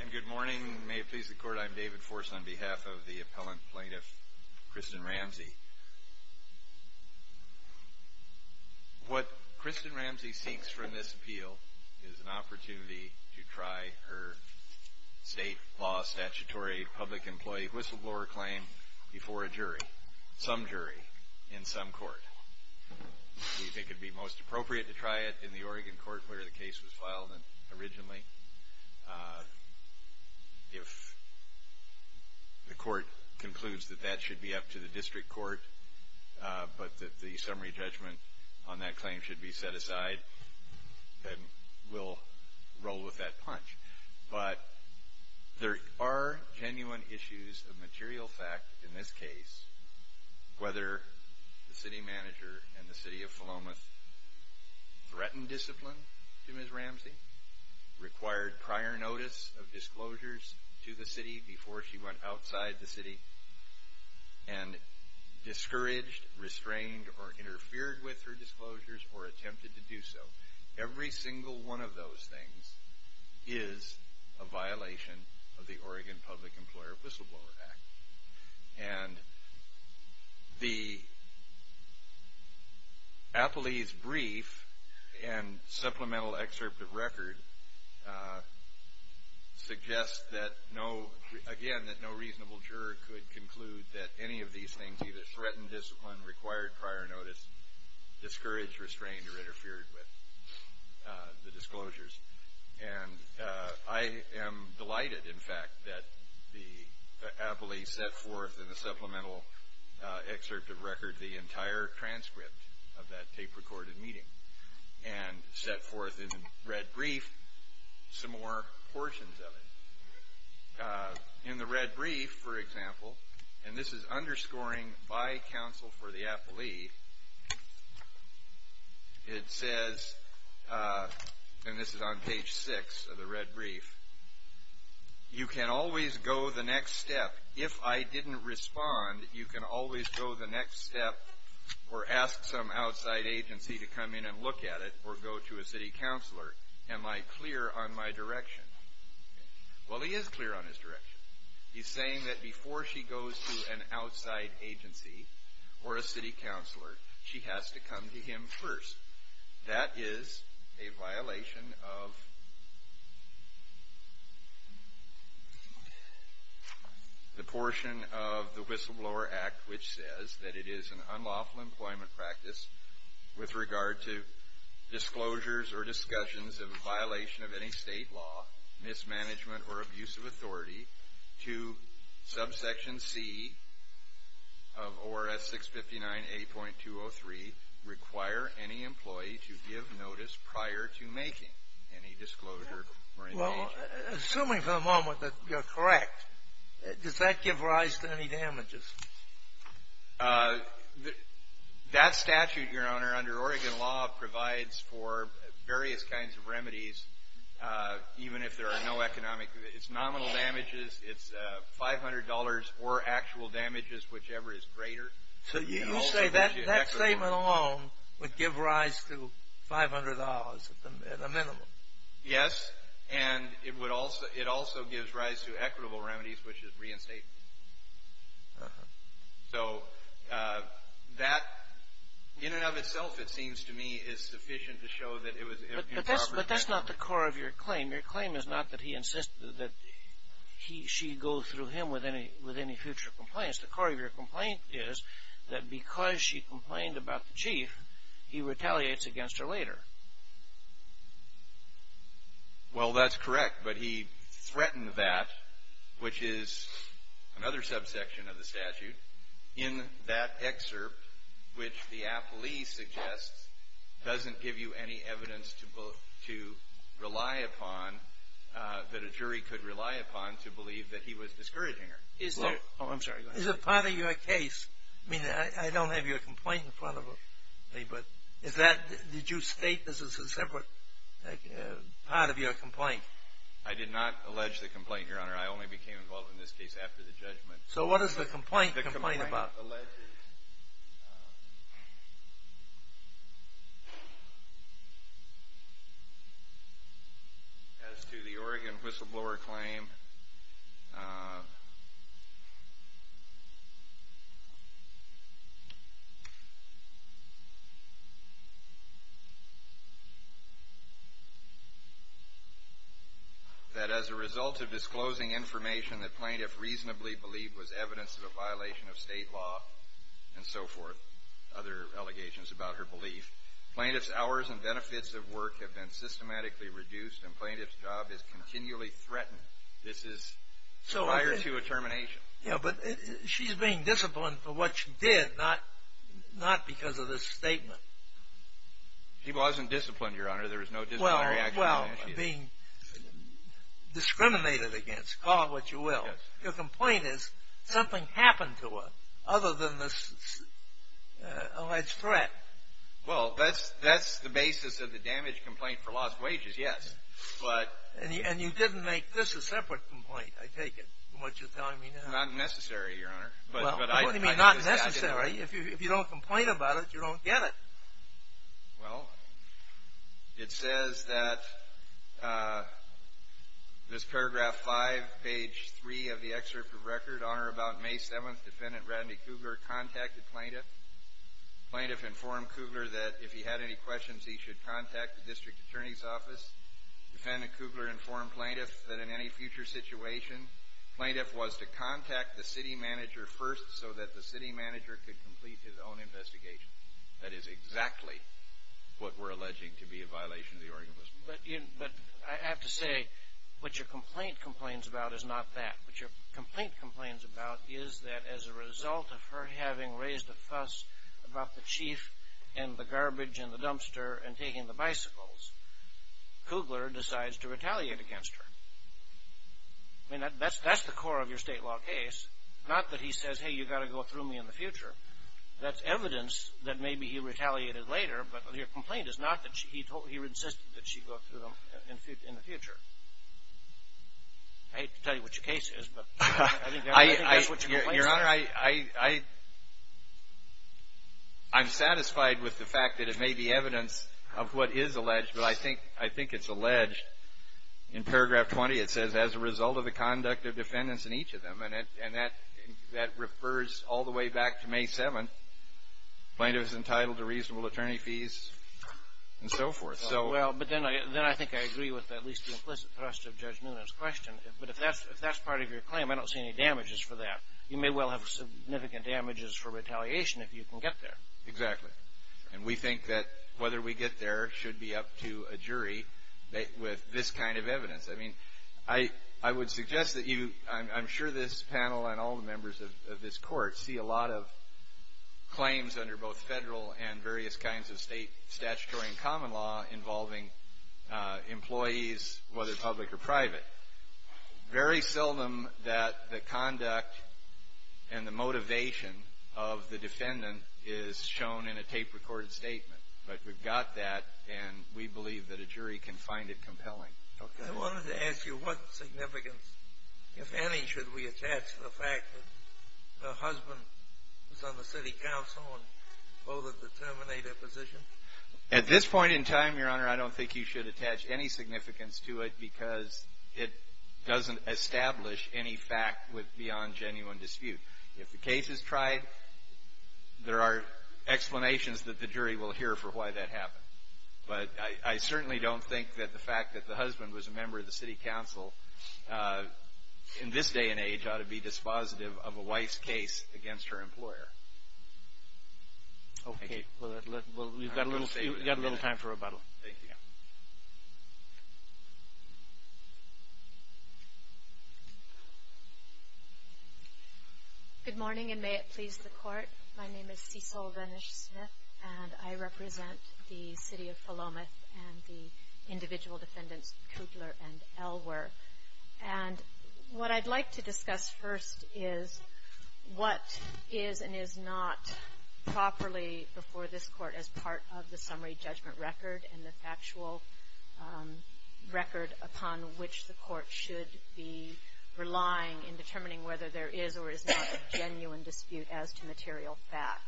And good morning. May it please the court, I'm David Force on behalf of the appellant plaintiff Kristen Ramsey. What Kristen Ramsey seeks from this appeal is an opportunity to try her state law statutory public employee whistleblower claim before a jury, some jury, in some court. We think it would be most appropriate to try it in the Oregon court where the case was filed originally. If the court concludes that that should be up to the district court, but that the summary judgment on that claim should be set aside, then we'll roll with that punch. But there are genuine issues of material fact in this case, whether the city manager and the City of Philomath threatened discipline to Ms. Ramsey, required prior notice of disclosures to the city before she went outside the city, and discouraged, restrained, or interfered with her disclosures or attempted to do so. Every single one of those things is a violation of the Oregon Public Employer Whistleblower Act. And the appellee's brief and supplemental excerpt of record suggests that no, again, that no reasonable juror could conclude that any of these things, either threatened discipline, required prior notice, discouraged, restrained, or interfered with the disclosures. And I am delighted, in fact, that the appellee set forth in the supplemental excerpt of record the entire transcript of that tape-recorded meeting, and set forth in the red brief some more portions of it. In the red brief, for example, and this is underscoring by counsel for the appellee, it says, and this is on page six of the red brief, you can always go the next step. If I didn't respond, you can always go the next step, or ask some outside agency to come in and look at it, or go to a city counselor. Am I clear on my direction? Well, he is clear on his direction. He's saying that before she goes to an outside agency or a city counselor, she has to come to him first. That is a violation of the portion of the Whistleblower Act which says that it is an unlawful employment practice with regard to disclosures or discussions of a violation of any state law, mismanagement, or abuse of authority to subsection C of ORS 659A.203, require any employee to give notice prior to making any disclosure or engagement. Well, assuming for the moment that you're correct, does that give rise to any damages? That statute, Your Honor, under Oregon law, provides for various kinds of remedies, even if there are no economic, it's nominal damages, it's $500 or actual damages, whichever is greater. So you say that statement alone would give rise to $500 at a minimum? Yes, and it also gives rise to equitable remedies, which is reinstatement. Uh-huh. So that, in and of itself, it seems to me, is sufficient to show that it was improper. But that's not the core of your claim. Your claim is not that he insisted that she go through him with any future complaints. The core of your complaint is that because she complained about the chief, he retaliates against her later. Well, that's correct. But he threatened that, which is another subsection of the statute, in that excerpt, which the appellee suggests doesn't give you any evidence to rely upon, that a jury could rely upon to believe that he was discouraging her. Oh, I'm sorry. Is it part of your case, I mean, I don't have your complaint in front of me, but is that, did you state this as a separate part of your complaint? I did not allege the complaint, Your Honor. I only became involved in this case after the judgment. So what does the complaint complain about? It alleges, as to the Oregon whistleblower claim, that as a result of disclosing information that plaintiff reasonably believed was evidence of a violation of state law and so forth, other allegations about her belief, plaintiff's hours and benefits of work have been systematically reduced and plaintiff's job is continually threatened. This is prior to a termination. Yeah, but she's being disciplined for what she did, not because of this statement. She wasn't disciplined, Your Honor. There was no discipline reaction. Well, being discriminated against, call it what you will. Your complaint is something happened to her other than this alleged threat. Well, that's the basis of the damage complaint for lost wages, yes. And you didn't make this a separate complaint, I take it, from what you're telling me now. Not necessary, Your Honor. Well, what do you mean not necessary? If you don't complain about it, you don't get it. Well, it says that this paragraph 5, page 3 of the excerpt of record, Honor, about May 7th, Defendant Rodney Kugler contacted plaintiff. Plaintiff informed Kugler that if he had any questions, he should contact the district attorney's office. Defendant Kugler informed plaintiff that in any future situation, plaintiff was to contact the city manager first so that the city manager could complete his own investigation. That is exactly what we're alleging to be a violation of the Oregon Post. But I have to say what your complaint complains about is not that. What your complaint complains about is that as a result of her having raised a fuss about the chief and the garbage and the dumpster and taking the bicycles, Kugler decides to retaliate against her. I mean, that's the core of your state law case. Not that he says, hey, you've got to go through me in the future. That's evidence that maybe he retaliated later, but your complaint is not that he insisted that she go through him in the future. I hate to tell you what your case is, but I think that's what your complaint says. Your Honor, I'm satisfied with the fact that it may be evidence of what is alleged, but I think it's alleged in paragraph 20. It says, as a result of the conduct of defendants in each of them, and that refers all the way back to May 7th, plaintiff is entitled to reasonable attorney fees and so forth. Well, but then I think I agree with at least the implicit thrust of Judge Nuna's question. But if that's part of your claim, I don't see any damages for that. You may well have significant damages for retaliation if you can get there. Exactly. And we think that whether we get there should be up to a jury with this kind of evidence. I mean, I would suggest that you, I'm sure this panel and all the members of this court, see a lot of claims under both federal and various kinds of state statutory and common law involving employees, whether public or private. Very seldom that the conduct and the motivation of the defendant is shown in a tape-recorded statement. But we've got that, and we believe that a jury can find it compelling. Okay. I wanted to ask you what significance, if any, should we attach to the fact that the husband was on the city council and held a determinative position? At this point in time, Your Honor, I don't think you should attach any significance to it because it doesn't establish any fact beyond genuine dispute. If the case is tried, there are explanations that the jury will hear for why that happened. But I certainly don't think that the fact that the husband was a member of the city council in this day and age ought to be dispositive of a wife's case against her employer. Okay. Well, we've got a little time for rebuttal. My name is Cecil Venish-Smith, and I represent the city of Philomath and the individual defendants Coogler and Elwer. And what I'd like to discuss first is what is and is not properly before this Court as part of the summary judgment record and the factual record upon which the Court should be relying in determining whether there is or is not a genuine dispute as to material fact.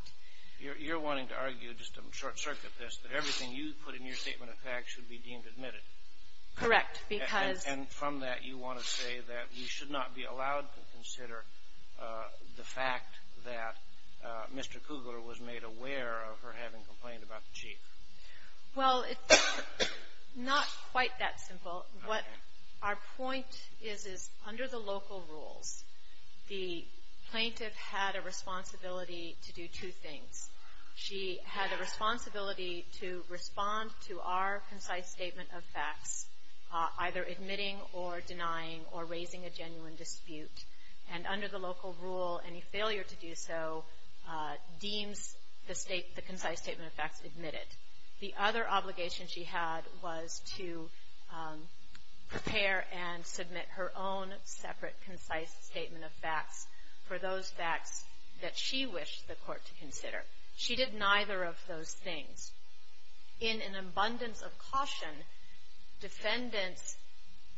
You're wanting to argue, just to short-circuit this, that everything you put in your statement of facts should be deemed admitted. Correct. And from that, you want to say that we should not be allowed to consider the fact that Mr. Coogler was made aware of her having complained about the chief. Well, it's not quite that simple. What our point is, is under the local rules, the plaintiff had a responsibility to do two things. She had a responsibility to respond to our concise statement of facts, either admitting or denying or raising a genuine dispute. And under the local rule, any failure to do so deems the concise statement of facts admitted. The other obligation she had was to prepare and submit her own separate concise statement of facts for those facts that she wished the Court to consider. She did neither of those things. In an abundance of caution, defendants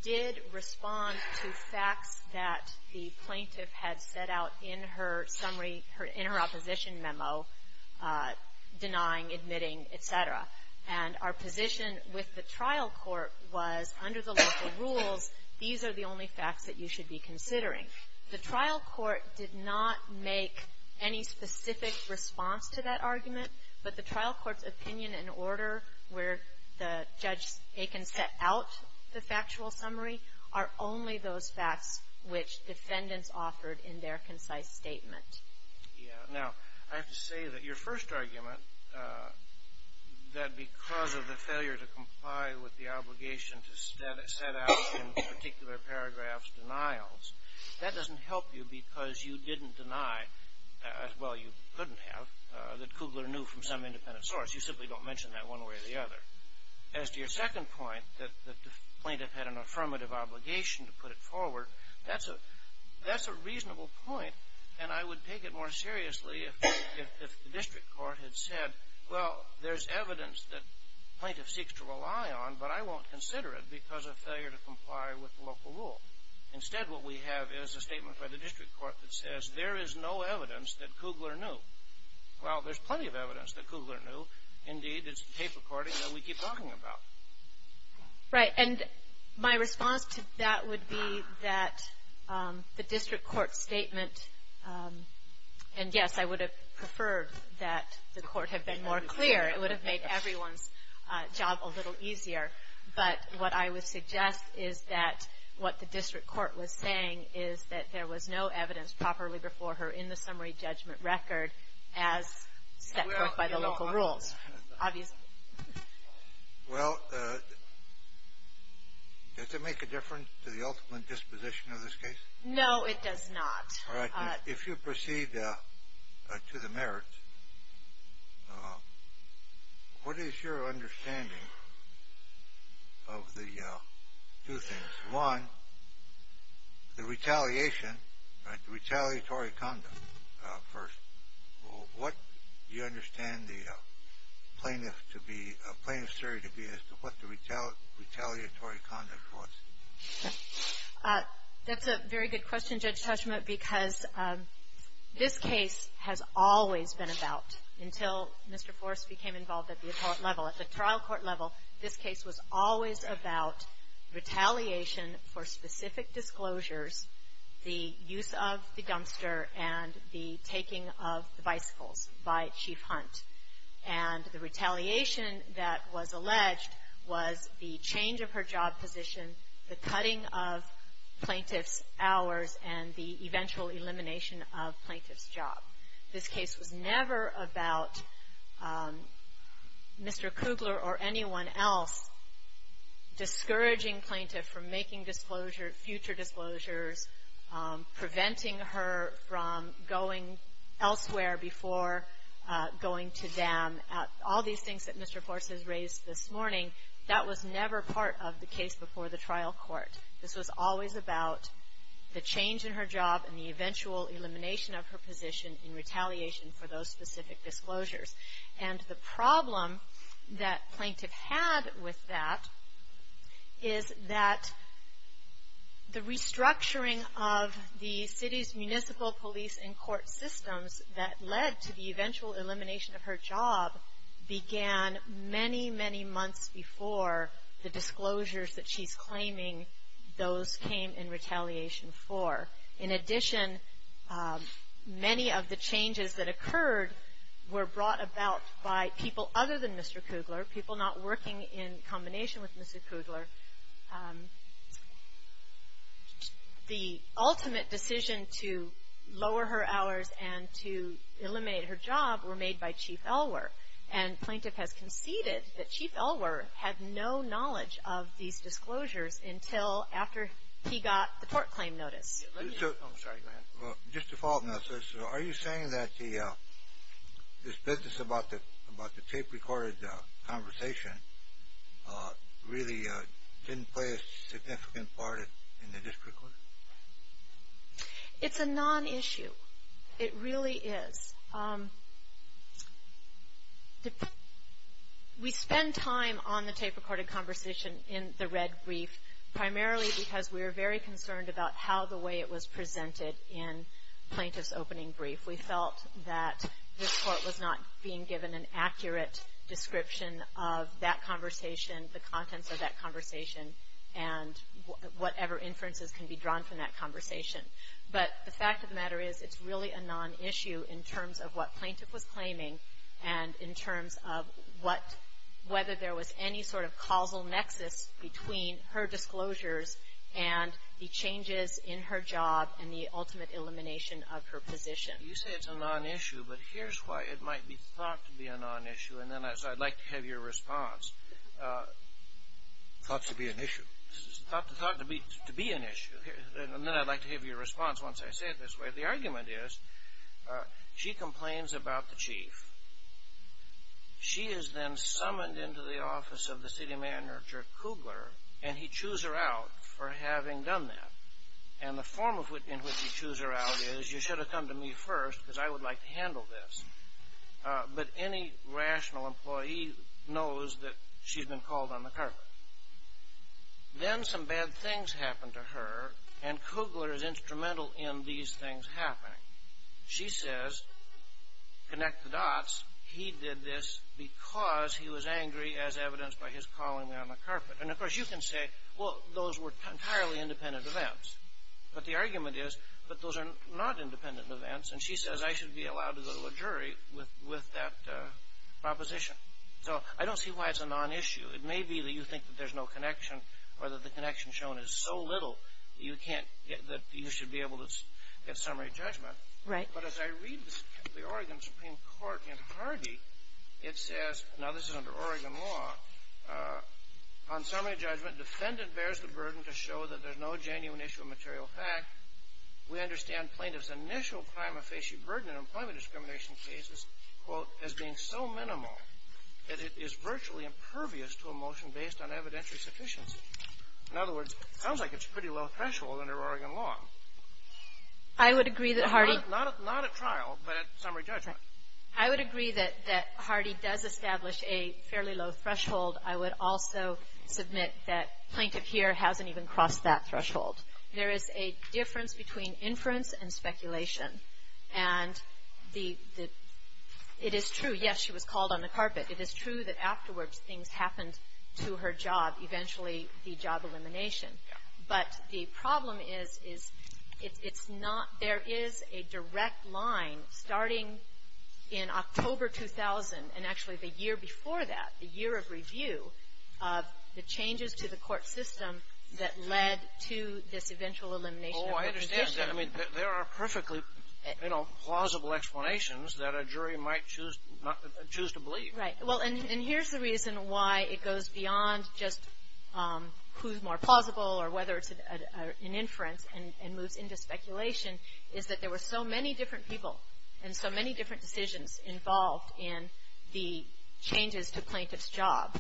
did respond to facts that the plaintiff had set out in her summary, in her opposition memo, denying, admitting, et cetera. And our position with the trial court was under the local rules, these are the only facts that you should be considering. The trial court did not make any specific response to that argument, but the trial court's opinion and order where Judge Aiken set out the factual summary are only those facts which defendants offered in their concise statement. Yeah. Now, I have to say that your first argument, that because of the failure to comply with the obligation to set out in particular paragraphs denials, that doesn't help you because you didn't deny, well, you couldn't have, that Kugler knew from some independent source. You simply don't mention that one way or the other. As to your second point, that the plaintiff had an affirmative obligation to put it forward, that's a reasonable point, and I would take it more seriously if the district court had said, well, there's evidence that the plaintiff seeks to rely on, but I won't consider it because of failure to comply with the local rule. Instead, what we have is a statement by the district court that says, there is no evidence that Kugler knew. Well, there's plenty of evidence that Kugler knew. Indeed, it's the tape recording that we keep talking about. Right. And my response to that would be that the district court statement, and yes, I would have preferred that the court had been more clear. It would have made everyone's job a little easier. But what I would suggest is that what the district court was saying is that there was no evidence properly before her in the summary judgment record as set forth by the local rules, obviously. Well, does it make a difference to the ultimate disposition of this case? No, it does not. All right. If you proceed to the merits, what is your understanding of the two things? One, the retaliation, the retaliatory conduct first. What do you understand the plaintiff to be, plaintiff's theory to be as to what the retaliatory conduct was? That's a very good question, Judge Tushnet, because this case has always been about, until Mr. Forrest became involved at the court level, at the trial court level, this case was always about retaliation for specific disclosures, the use of the dumpster and the taking of the bicycles by Chief Hunt. And the retaliation that was alleged was the change of her job position, the cutting of plaintiff's hours, and the eventual elimination of plaintiff's job. This case was never about Mr. Kugler or anyone else discouraging plaintiff from making future disclosures, preventing her from going elsewhere before going to them. All these things that Mr. Forrest has raised this morning, that was never part of the case before the trial court. This was always about the change in her job and the eventual elimination of her position in retaliation for those specific disclosures. And the problem that plaintiff had with that is that the restructuring of the city's municipal police and court systems that led to the eventual elimination of her job began many, many months before the disclosures that she's claiming those came in retaliation for. In addition, many of the changes that occurred were brought about by people other than Mr. Kugler, people not working in combination with Mr. Kugler. The ultimate decision to lower her hours and to eliminate her job were made by Chief Elwer. And plaintiff has conceded that Chief Elwer had no knowledge of these disclosures until after he got the tort claim notice. Let me – I'm sorry. Go ahead. Just to follow up, are you saying that this business about the tape-recorded conversation really didn't play a significant part in the district court? It's a non-issue. It really is. We spend time on the tape-recorded conversation in the red brief primarily because we are very concerned about how the way it was presented in plaintiff's opening brief. We felt that this court was not being given an accurate description of that conversation, the contents of that conversation, and whatever inferences can be drawn from that conversation. But the fact of the matter is it's really a non-issue in terms of what plaintiff was claiming and in terms of what – whether there was any sort of causal nexus between her disclosures and the changes in her job and the ultimate elimination of her position. You say it's a non-issue, but here's why it might be thought to be a non-issue, and then I'd like to have your response. Thought to be an issue. Thought to be an issue. And then I'd like to have your response once I say it this way. The argument is she complains about the chief. She is then summoned into the office of the city manager, Kugler, and he chews her out for having done that. And the form in which he chews her out is, you should have come to me first because I would like to handle this. But any rational employee knows that she's been called on the carpet. Then some bad things happen to her, and Kugler is instrumental in these things happening. She says, connect the dots, he did this because he was angry, as evidenced by his calling me on the carpet. And, of course, you can say, well, those were entirely independent events. But the argument is that those are not independent events, and she says I should be allowed to go to a jury with that proposition. So I don't see why it's a non-issue. It may be that you think that there's no connection, or that the connection shown is so little, that you should be able to get summary judgment. But as I read the Oregon Supreme Court in Hardy, it says, now this is under Oregon law, on summary judgment, defendant bears the burden to show that there's no genuine issue of material fact. We understand plaintiff's initial crime of facial burden in employment discrimination cases, quote, as being so minimal that it is virtually impervious to a motion based on evidentiary sufficiency. In other words, it sounds like it's a pretty low threshold under Oregon law. I would agree that Hardy Not at trial, but at summary judgment. I would agree that Hardy does establish a fairly low threshold. I would also submit that plaintiff here hasn't even crossed that threshold. There is a difference between inference and speculation. And the — it is true, yes, she was called on the carpet. It is true that afterwards things happened to her job, eventually the job elimination. But the problem is, is it's not — there is a direct line starting in October 2000, and actually the year before that, the year of review of the changes to the court system that led to this eventual elimination of her position. I mean, there are perfectly, you know, plausible explanations that a jury might choose to believe. Right. Well, and here's the reason why it goes beyond just who's more plausible or whether it's an inference and moves into speculation, is that there were so many different people and so many different decisions involved in the changes to plaintiff's job.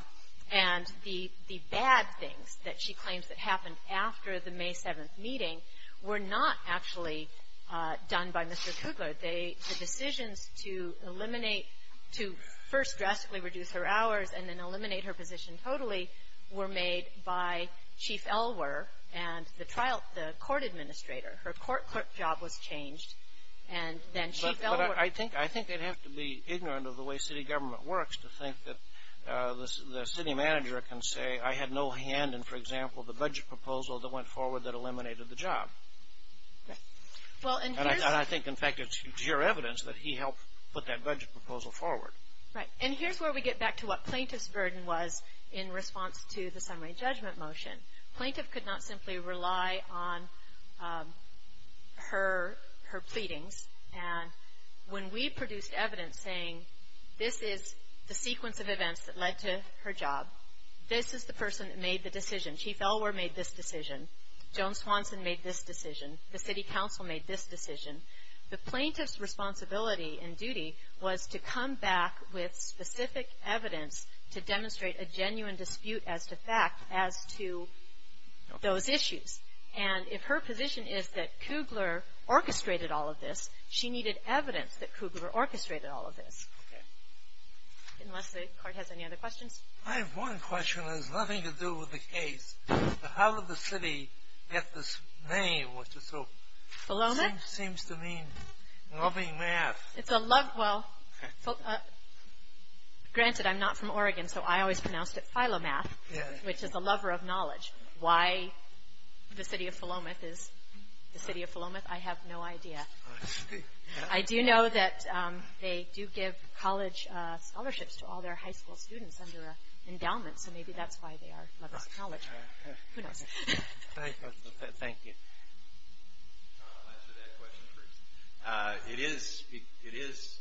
And the bad things that she claims that happened after the May 7th meeting were not actually done by Mr. Kugler. They — the decisions to eliminate — to first drastically reduce her hours and then eliminate her position totally were made by Chief Elwer and the trial — the court administrator. Her court — court job was changed. And then Chief Elwer — the city manager can say, I had no hand in, for example, the budget proposal that went forward that eliminated the job. Right. Well, and here's — And I think, in fact, it's sheer evidence that he helped put that budget proposal forward. Right. And here's where we get back to what plaintiff's burden was in response to the summary judgment motion. Plaintiff could not simply rely on her — her pleadings. And when we produced evidence saying, this is the sequence of events that led to her job, this is the person that made the decision, Chief Elwer made this decision, Joan Swanson made this decision, the city council made this decision, the plaintiff's responsibility and duty was to come back with specific evidence to demonstrate a genuine dispute as to fact as to those issues. And if her position is that Kugler orchestrated all of this, she needed evidence that Kugler orchestrated all of this. Okay. Unless the court has any other questions. I have one question. It has nothing to do with the case. How did the city get this name, which is so — Philomath? Seems to mean loving math. It's a love — well, granted, I'm not from Oregon, so I always pronounced it Philomath, which is a lover of knowledge. Why the city of Philomath is the city of Philomath, I have no idea. I see. I do know that they do give college scholarships to all their high school students under an endowment, so maybe that's why they are lovers of knowledge. Who knows? Thank you. I'll answer that question first. It is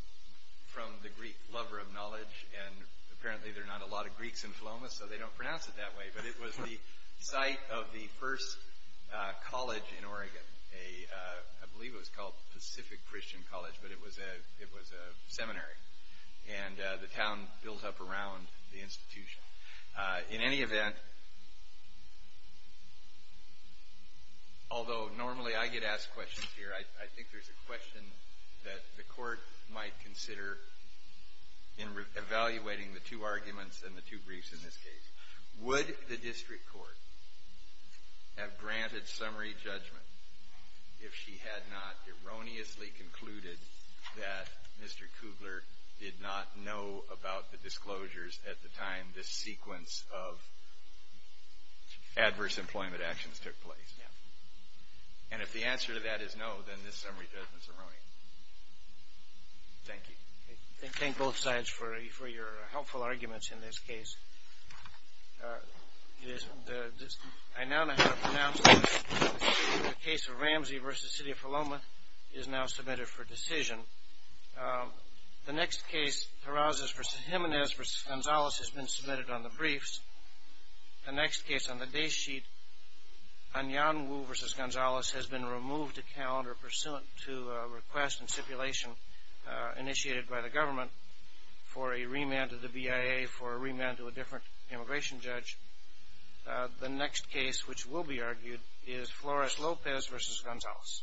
from the Greek, lover of knowledge, and apparently there are not a lot of Greeks in Philomath, so they don't pronounce it that way, but it was the site of the first college in Oregon. I believe it was called Pacific Christian College, but it was a seminary, and the town built up around the institution. In any event, although normally I get asked questions here, I think there's a question that the court might consider in evaluating the two arguments and the two briefs in this case. Would the district court have granted summary judgment if she had not erroneously concluded that Mr. Kugler did not know about the disclosures at the time this sequence of adverse employment actions took place? And if the answer to that is no, then this summary judgment is erroneous. Thank you. Thank both sides for your helpful arguments in this case. I now pronounce the case of Ramsey v. City of Philomath is now submitted for decision. The next case, Tarazas v. Jimenez v. Gonzalez, has been submitted on the briefs. The next case on the day sheet, Anyanwu v. Gonzalez, has been removed to calendar pursuant to a request and stipulation initiated by the government for a remand to the BIA for a remand to a different immigration judge. The next case, which will be argued, is Flores Lopez v. Gonzalez.